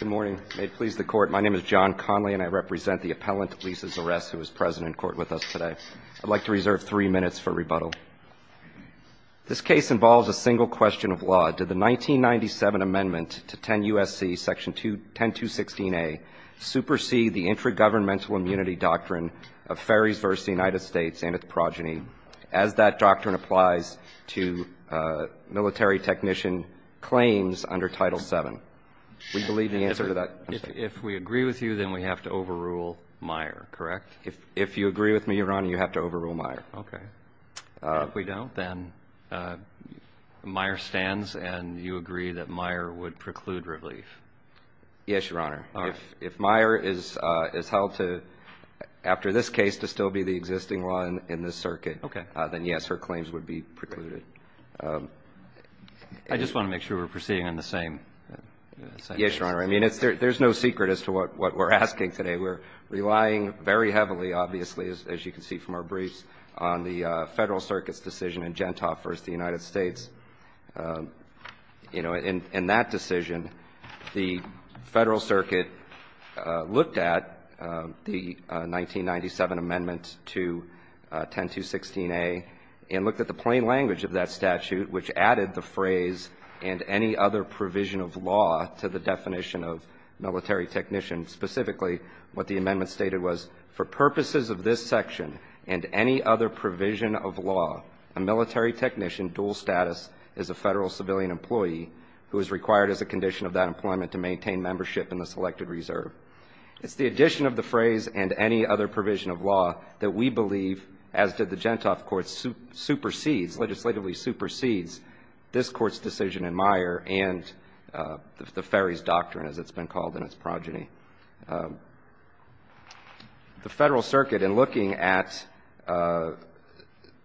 Good morning. May it please the Court, my name is John Conley, and I represent the appellant Lisa Zuress, who is present in court with us today. I'd like to reserve three minutes for rebuttal. This case involves a single question of law. Did the 1997 amendment to 10 U.S.C., section 10216a, supersede the intragovernmental immunity doctrine of ferries versus the United States and its progeny, as that doctrine applies to military technician claims under Title VII? Would you believe the answer to that? If we agree with you, then we have to overrule Meyer, correct? If you agree with me, Your Honor, you have to overrule Meyer. Okay. And if we don't, then Meyer stands and you agree that Meyer would preclude relief? Yes, Your Honor. All right. If Meyer is held to, after this case, to still be the existing law in this circuit, then, yes, her claims would be precluded. I just want to make sure we're proceeding on the same case. Yes, Your Honor. I mean, there's no secret as to what we're asking today. We're relying very heavily, obviously, as you can see from our briefs, on the Federal Circuit's decision in Gentop versus the United States. You know, in that decision, the Federal Circuit looked at the 1997 amendment to 10216a and looked at the plain language of that statute, which added the phrase and any other provision of law to the definition of military technician. Specifically, what the amendment stated was, for purposes of this section and any other provision of law, a military technician dual status is a Federal civilian employee who is required as a condition of that employment to maintain membership in the selected reserve. It's the addition of the phrase and any other provision of law that we believe, as did the Gentop Court, supersedes, legislatively supersedes, this Court's decision in Meyer and the Ferry's Doctrine, as it's been called in its progeny. The Federal Circuit, in looking at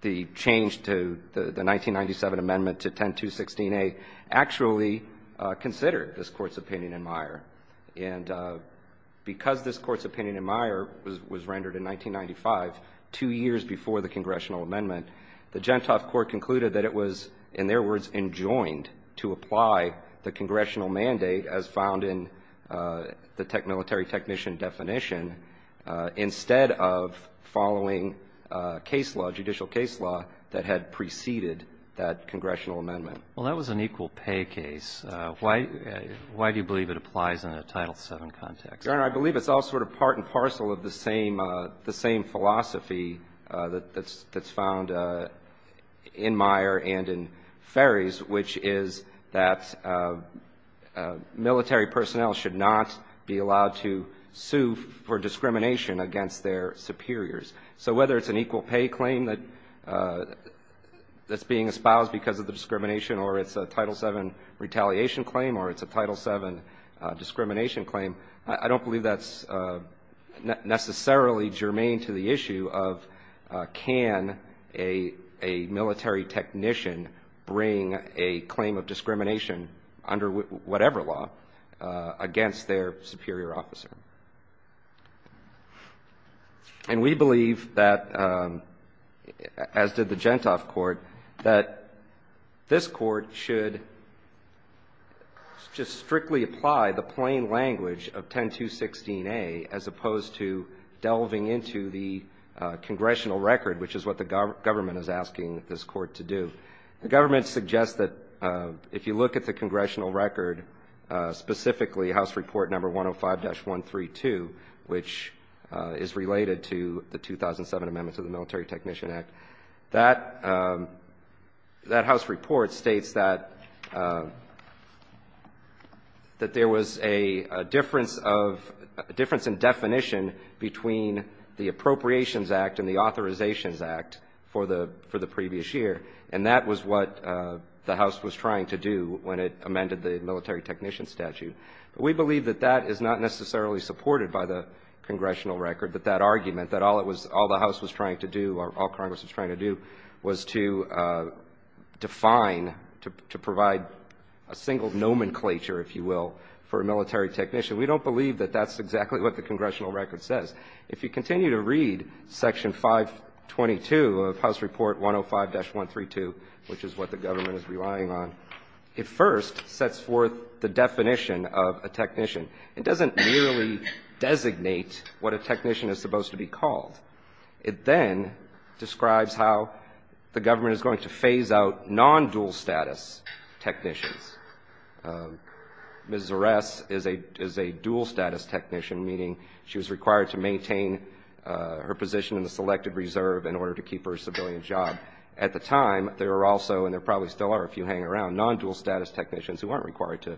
the change to the 1997 amendment to 10216a, actually considered this Court's opinion in Meyer. And because this Court's opinion in Meyer was rendered in 1995, two years before the congressional amendment, the Gentop Court concluded that it was, in their words, to apply the congressional mandate as found in the military technician definition, instead of following case law, judicial case law, that had preceded that congressional amendment. Well, that was an equal pay case. Why do you believe it applies in a Title VII context? Your Honor, I believe it's all sort of part and parcel of the same philosophy that's found in Meyer and in Ferry's, which is that military personnel should not be allowed to sue for discrimination against their superiors. So whether it's an equal pay claim that's being espoused because of the discrimination, or it's a Title VII retaliation claim, or it's a Title VII discrimination claim, I don't believe that's necessarily germane to the issue of can a military technician bring a claim of discrimination under whatever law against their superior officer. And we believe that, as did the Gentop Court, that this Court should just strictly apply the plain language of 10216a, as opposed to delving into the congressional record, which is what the government is asking this Court to do. The government suggests that if you look at the congressional record, specifically House Report No. 105-132, which is related to the 2007 amendments of the Military Technician Act, that House Report states that there was a difference in definition between the Appropriations Act and the Authorizations Act for the previous year, and that was what the House was trying to do when it amended the Military Technician Statute. We believe that that is not necessarily supported by the congressional record, that all the House was trying to do or all Congress was trying to do was to define, to provide a single nomenclature, if you will, for a military technician. We don't believe that that's exactly what the congressional record says. If you continue to read Section 522 of House Report 105-132, which is what the government is relying on, it first sets forth the definition of a technician. It doesn't merely designate what a technician is supposed to be called. It then describes how the government is going to phase out non-dual status technicians. Ms. Zares is a dual status technician, meaning she was required to maintain her position in the Selected Reserve in order to keep her civilian job. At the time, there were also, and there probably still are if you hang around, non-dual status technicians who aren't required to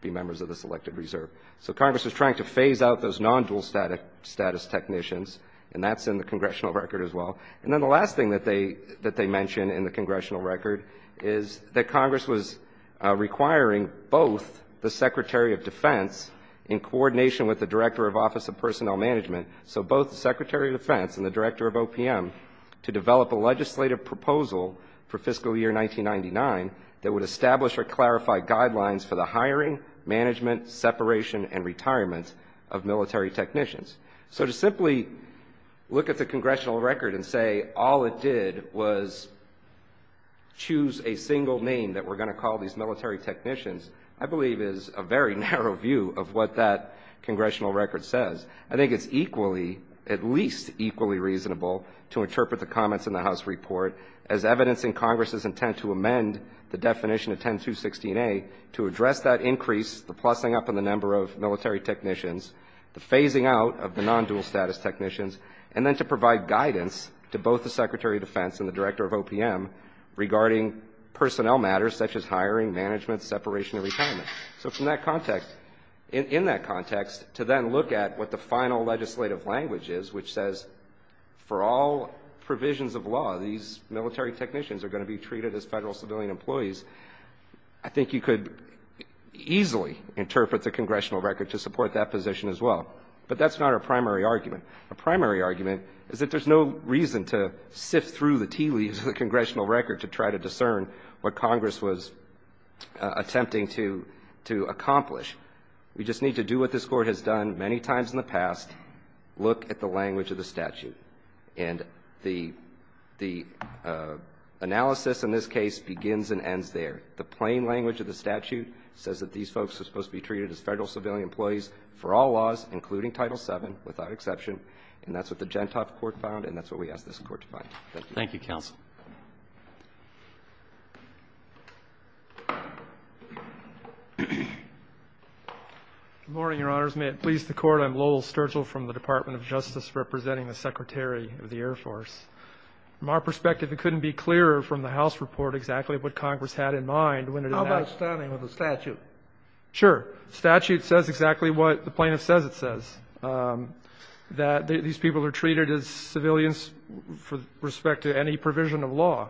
be members of the Selected Reserve. So Congress was trying to phase out those non-dual status technicians, and that's in the congressional record as well. And then the last thing that they mention in the congressional record is that Congress was requiring both the Secretary of Defense in coordination with the Director of Office of Personnel Management, so both the Secretary of Defense and the Director of OPM, to develop a legislative proposal for fiscal year 1999 that would establish or clarify guidelines for the hiring, management, separation, and retirement of military technicians. So to simply look at the congressional record and say, all it did was choose a single name that we're going to call these military technicians, I believe is a very narrow view of what that congressional record says. I think it's equally, at least equally reasonable to interpret the comments in the House report as evidencing Congress's intent to amend the definition of 10216a to address that increase, the plussing up in the number of military technicians, the phasing out of the non-dual status technicians, and then to provide guidance to both the Secretary of Defense and the Director of OPM regarding personnel matters such as hiring, management, separation, and retirement. So from that context, in that context, to then look at what the final legislative language is, which says for all provisions of law these military technicians are going to be treated as federal civilian employees, I think you could easily interpret the congressional record to support that position as well. But that's not our primary argument. Our primary argument is that there's no reason to sift through the tea leaves of the congressional record to try to discern what Congress was attempting to accomplish. We just need to do what this Court has done many times in the past, look at the language of the statute. And the analysis in this case begins and ends there. The plain language of the statute says that these folks are supposed to be treated as federal civilian employees for all laws, including Title VII, without exception. And that's what the Gentop Court found, and that's what we ask this Court to find. Thank you. Thank you, counsel. Good morning, Your Honors. May it please the Court, I'm Lowell Sturgill from the Department of Justice representing the Secretary of the Air Force. From our perspective, it couldn't be clearer from the House report exactly what Congress had in mind when it enacted the statute. How about standing with the statute? Sure. The statute says exactly what the plaintiff says it says, that these people are treated as civilians with respect to any provision of law.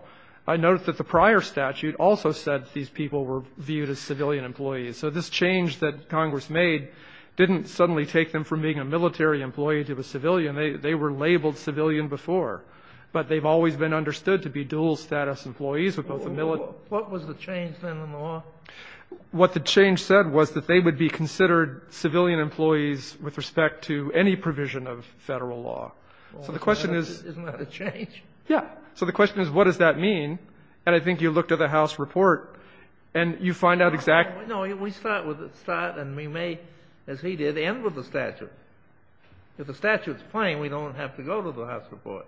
I note that the prior statute also said these people were viewed as civilian employees. So this change that Congress made didn't suddenly take them from being a military employee to a civilian. They were labeled civilian before. But they've always been understood to be dual-status employees of both the military and the military. What was the change then in the law? What the change said was that they would be considered civilian employees with respect to any provision of Federal law. So the question is — Isn't that a change? Yeah. So the question is, what does that mean? And I think you look to the House report, and you find out exactly — No. We start with the statute, and we may, as he did, end with the statute. If the statute is plain, we don't have to go to the House report.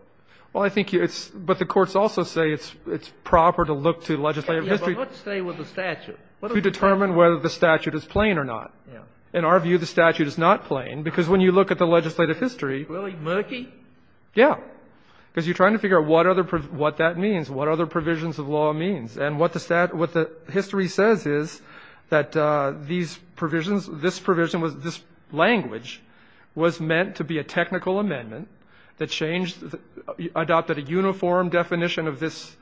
Well, I think it's — but the courts also say it's proper to look to legislative history — Yes, but not to stay with the statute. To determine whether the statute is plain or not. Yes. In our view, the statute is not plain, because when you look at the legislative history — Really? Murky? Yeah. Because you're trying to figure out what other — what that means, what other provisions of law means. And what the — what the history says is that these provisions, this provision was — this language was meant to be a technical amendment that changed — adopted a uniform definition of this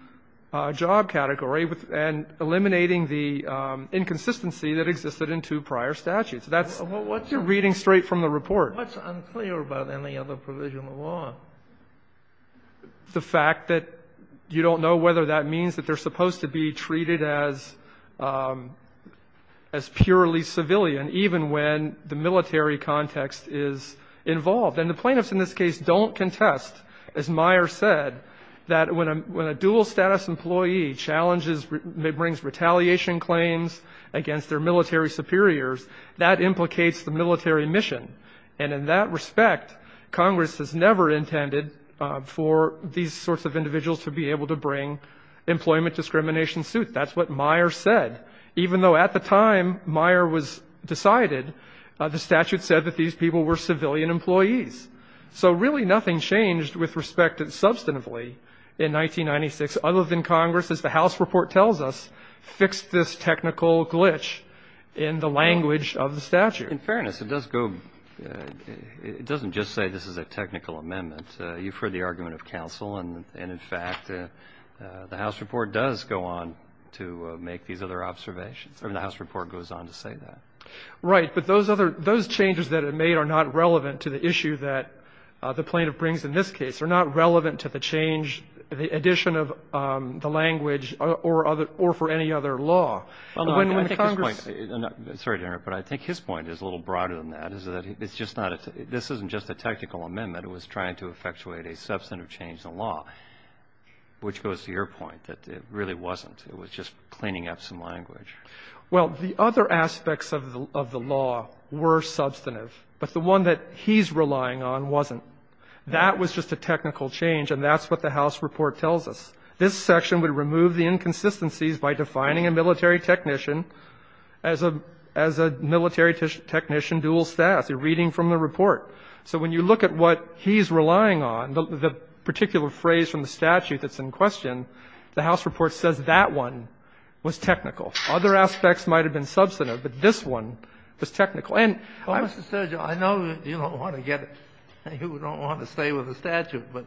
job category and eliminating the inconsistency that existed in two prior statutes. That's reading straight from the report. But what's unclear about any other provision of law? The fact that you don't know whether that means that they're supposed to be treated as — as purely civilian, even when the military context is involved. And the plaintiffs in this case don't contest, as Meyer said, that when a dual-status employee challenges — brings retaliation claims against their military superiors, that implicates the military mission. And in that respect, Congress has never intended for these sorts of individuals to be able to bring employment discrimination suit. That's what Meyer said, even though at the time Meyer was decided, the statute said that these people were civilian employees. So really nothing changed with respect to substantively in 1996, other than Congress, as the House report tells us, fixed this technical glitch in the language of the statute. In fairness, it does go — it doesn't just say this is a technical amendment. You've heard the argument of counsel, and in fact, the House report does go on to make these other observations. I mean, the House report goes on to say that. Right. But those other — those changes that it made are not relevant to the issue that the plaintiff brings in this case, are not relevant to the change, the addition of the language or other — or for any other law. When Congress — Well, I think his point — sorry to interrupt, but I think his point is a little broader than that, is that it's just not — this isn't just a technical amendment. It was trying to effectuate a substantive change in the law, which goes to your point, that it really wasn't. It was just cleaning up some language. Well, the other aspects of the law were substantive, but the one that he's relying on wasn't. That was just a technical change, and that's what the House report tells us. This section would remove the inconsistencies by defining a military technician as a — as a military technician dual status, a reading from the report. So when you look at what he's relying on, the particular phrase from the statute that's in question, the House report says that one was technical. Other aspects might have been substantive, but this one was technical. And — Well, Mr. Sergio, I know you don't want to get — you don't want to stay with the statute, but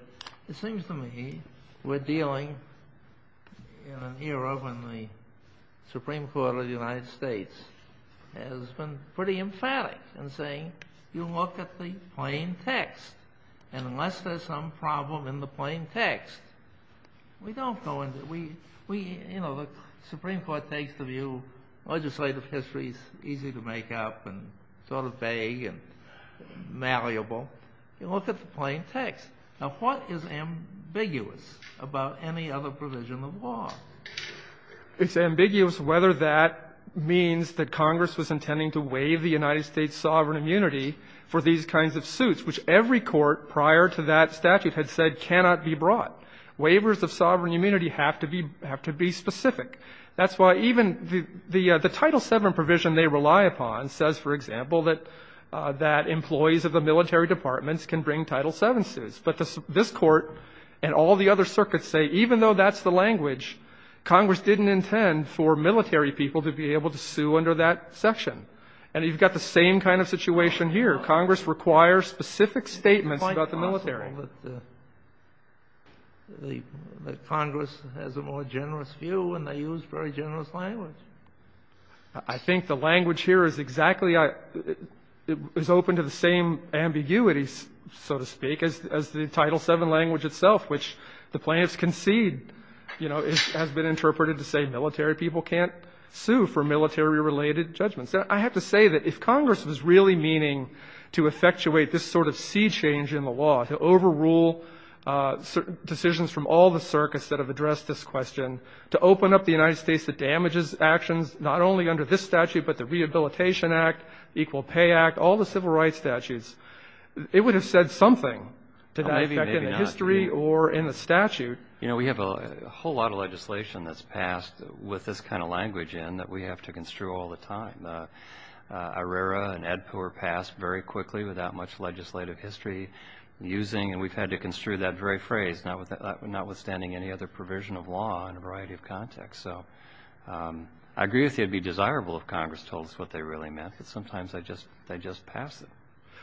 it seems to me we're dealing in an era when the Supreme Court of the United States has been pretty emphatic in saying you look at the plain text, and unless there's some problem in the plain text, we don't go into — we — you know, the Supreme Court takes the view legislative history is easy to make up and sort of vague and malleable. You look at the plain text. Now, what is ambiguous about any other provision of law? It's ambiguous whether that means that Congress was intending to waive the United States sovereign immunity for these kinds of suits, which every court prior to that statute had said cannot be brought. Waivers of sovereign immunity have to be — have to be specific. That's why even the — the Title VII provision they rely upon says, for example, that employees of the military departments can bring Title VII suits. But this Court and all the other circuits say even though that's the language, Congress didn't intend for military people to be able to sue under that section. And you've got the same kind of situation here. Congress requires specific statements about the military. But Congress has a more generous view and they use very generous language. I think the language here is exactly — is open to the same ambiguities, so to speak, as the Title VII language itself, which the plaintiffs concede, you know, has been interpreted to say military people can't sue for military-related judgments. I have to say that if Congress was really meaning to effectuate this sort of sea change in the law, to overrule decisions from all the circuits that have addressed this question, to open up the United States that damages actions not only under this statute but the Rehabilitation Act, Equal Pay Act, all the civil rights statutes, it would have said something to that effect in the history or in the statute. You know, we have a whole lot of legislation that's passed with this kind of language in that we have to construe all the time. And ARERA and AEDPA were passed very quickly without much legislative history using — and we've had to construe that very phrase, notwithstanding any other provision of law in a variety of contexts. So I agree with you it would be desirable if Congress told us what they really meant, but sometimes they just pass it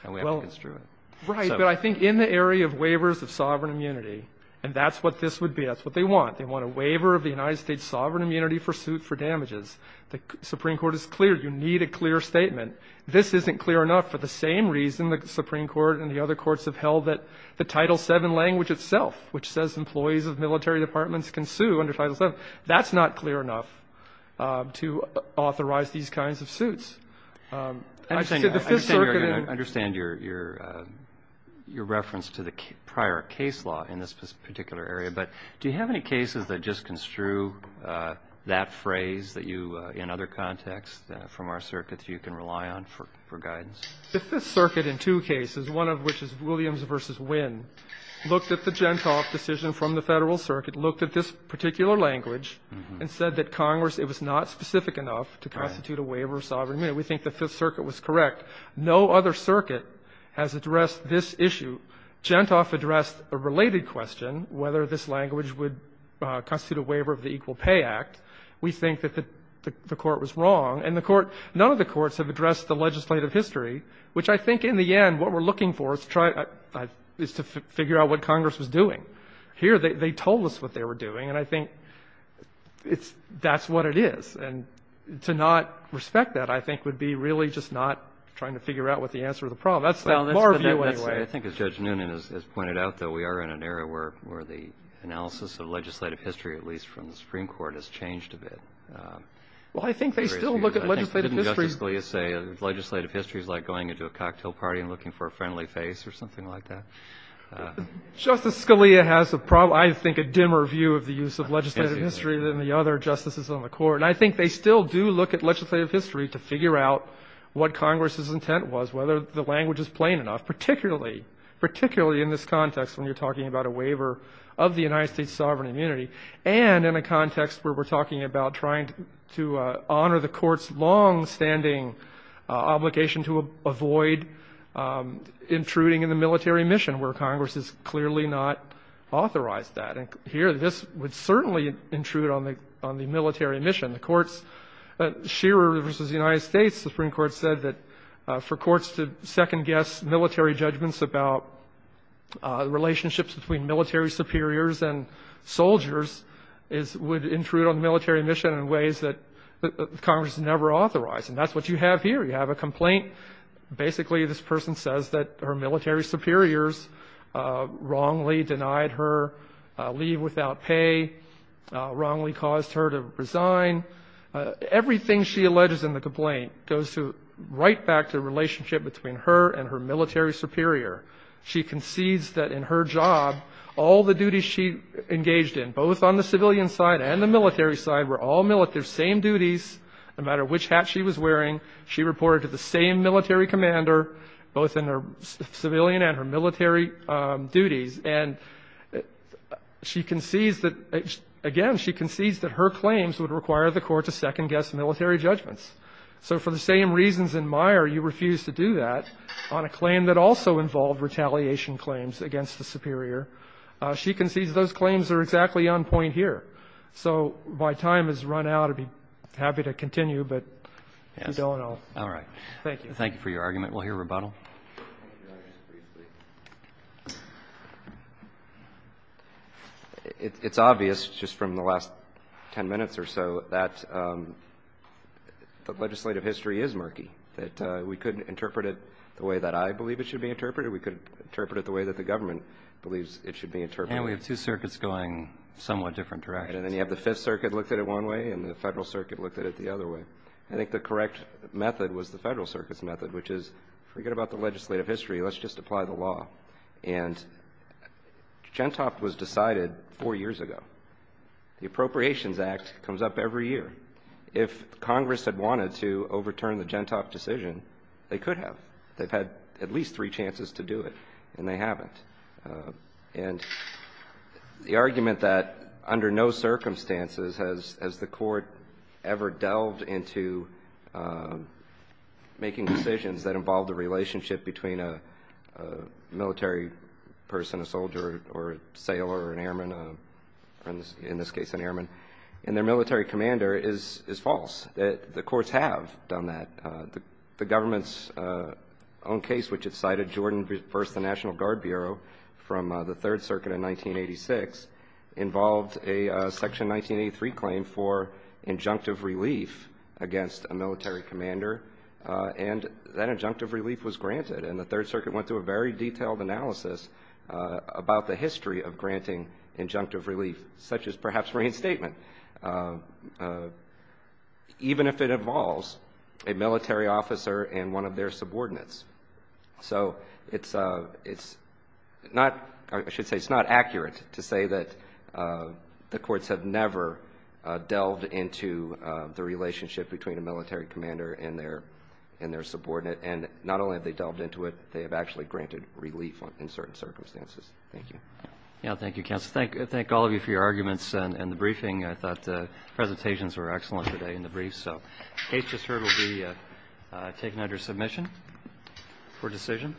and we have to construe it. Right. But I think in the area of waivers of sovereign immunity — and that's what this would be. That's what they want. They want a waiver of the United States sovereign immunity for suit for damages. The Supreme Court is clear. You need a clear statement. This isn't clear enough for the same reason the Supreme Court and the other courts have held that the Title VII language itself, which says employees of military departments can sue under Title VII, that's not clear enough to authorize these kinds of suits. I've said the Fifth Circuit and — I understand your — your reference to the prior case law in this particular area, but do you have any cases that just construe that phrase that you, in other contexts from our circuits, you can rely on for — for guidance? The Fifth Circuit in two cases, one of which is Williams v. Winn, looked at the Gentoff decision from the Federal Circuit, looked at this particular language, and said that Congress, it was not specific enough to constitute a waiver of sovereign immunity. We think the Fifth Circuit was correct. No other circuit has addressed this issue. Gentoff addressed a related question, whether this language would constitute a waiver of the Equal Pay Act. We think that the Court was wrong. And the Court — none of the courts have addressed the legislative history, which I think in the end what we're looking for is to try — is to figure out what Congress was doing. Here, they told us what they were doing, and I think it's — that's what it is. And to not respect that, I think, would be really just not trying to figure out what the answer to the problem is. That's my view, anyway. I think, as Judge Noonan has pointed out, though, we are in an era where the analysis of legislative history, at least from the Supreme Court, has changed a bit. Well, I think they still look at legislative history. Didn't Justice Scalia say legislative history is like going into a cocktail party and looking for a friendly face or something like that? Justice Scalia has, I think, a dimmer view of the use of legislative history than the other Justices on the Court. And I think they still do look at legislative history to figure out what Congress' intent was, whether the language is plain enough, particularly — particularly in this context when you're talking about a waiver of the United States' sovereign immunity, and in a context where we're talking about trying to honor the Court's longstanding obligation to avoid intruding in the military mission, where Congress has clearly not authorized that. And here, this would certainly intrude on the — on the military mission. And the courts — Shearer v. United States Supreme Court said that for courts to second-guess military judgments about relationships between military superiors and soldiers is — would intrude on the military mission in ways that Congress never authorized. And that's what you have here. You have a complaint. Basically, this person says that her military superiors wrongly denied her leave without pay, wrongly caused her to resign. Everything she alleges in the complaint goes to — right back to the relationship between her and her military superior. She concedes that in her job, all the duties she engaged in, both on the civilian side and the military side, were all same duties, no matter which hat she was wearing. She reported to the same military commander, both in her civilian and her military duties, and she concedes that — again, she concedes that her claims would require the Court to second-guess military judgments. So for the same reasons in Meyer, you refuse to do that on a claim that also involved retaliation claims against the superior. She concedes those claims are exactly on point here. So my time has run out. I'd be happy to continue, but if you don't, I'll — Roberts. All right. Thank you for your argument. We'll hear rebuttal. It's obvious, just from the last 10 minutes or so, that the legislative history is murky, that we couldn't interpret it the way that I believe it should be interpreted. We could interpret it the way that the government believes it should be interpreted. And we have two circuits going somewhat different directions. Right. And then you have the Fifth Circuit looked at it one way and the Federal Circuit looked at it the other way. I think the correct method was the Federal Circuit's method, which is forget about the legislative history. Let's just apply the law. And Gentop was decided four years ago. The Appropriations Act comes up every year. If Congress had wanted to overturn the Gentop decision, they could have. They've had at least three chances to do it, and they haven't. And the argument that under no circumstances has the court ever delved into making decisions that involve the relationship between a military person, a soldier or a sailor or an airman, in this case an airman, and their military commander is false. The courts have done that. The government's own case, which it cited, Jordan v. National Guard Bureau from the Third Circuit in 1986, involved a Section 1983 claim for injunctive relief against a military commander, and that injunctive relief was granted. And the Third Circuit went through a very detailed analysis about the history of granting injunctive relief, such as perhaps reinstatement. Even if it involves a military officer and one of their subordinates. So it's not, I should say, it's not accurate to say that the courts have never delved into the relationship between a military commander and their subordinate. And not only have they delved into it, they have actually granted relief in certain circumstances. Thank you. Yeah, thank you, counsel. Thank all of you for your arguments and the briefing. I thought the presentations were excellent today in the briefs. So the case just heard will be taken under submission for decision.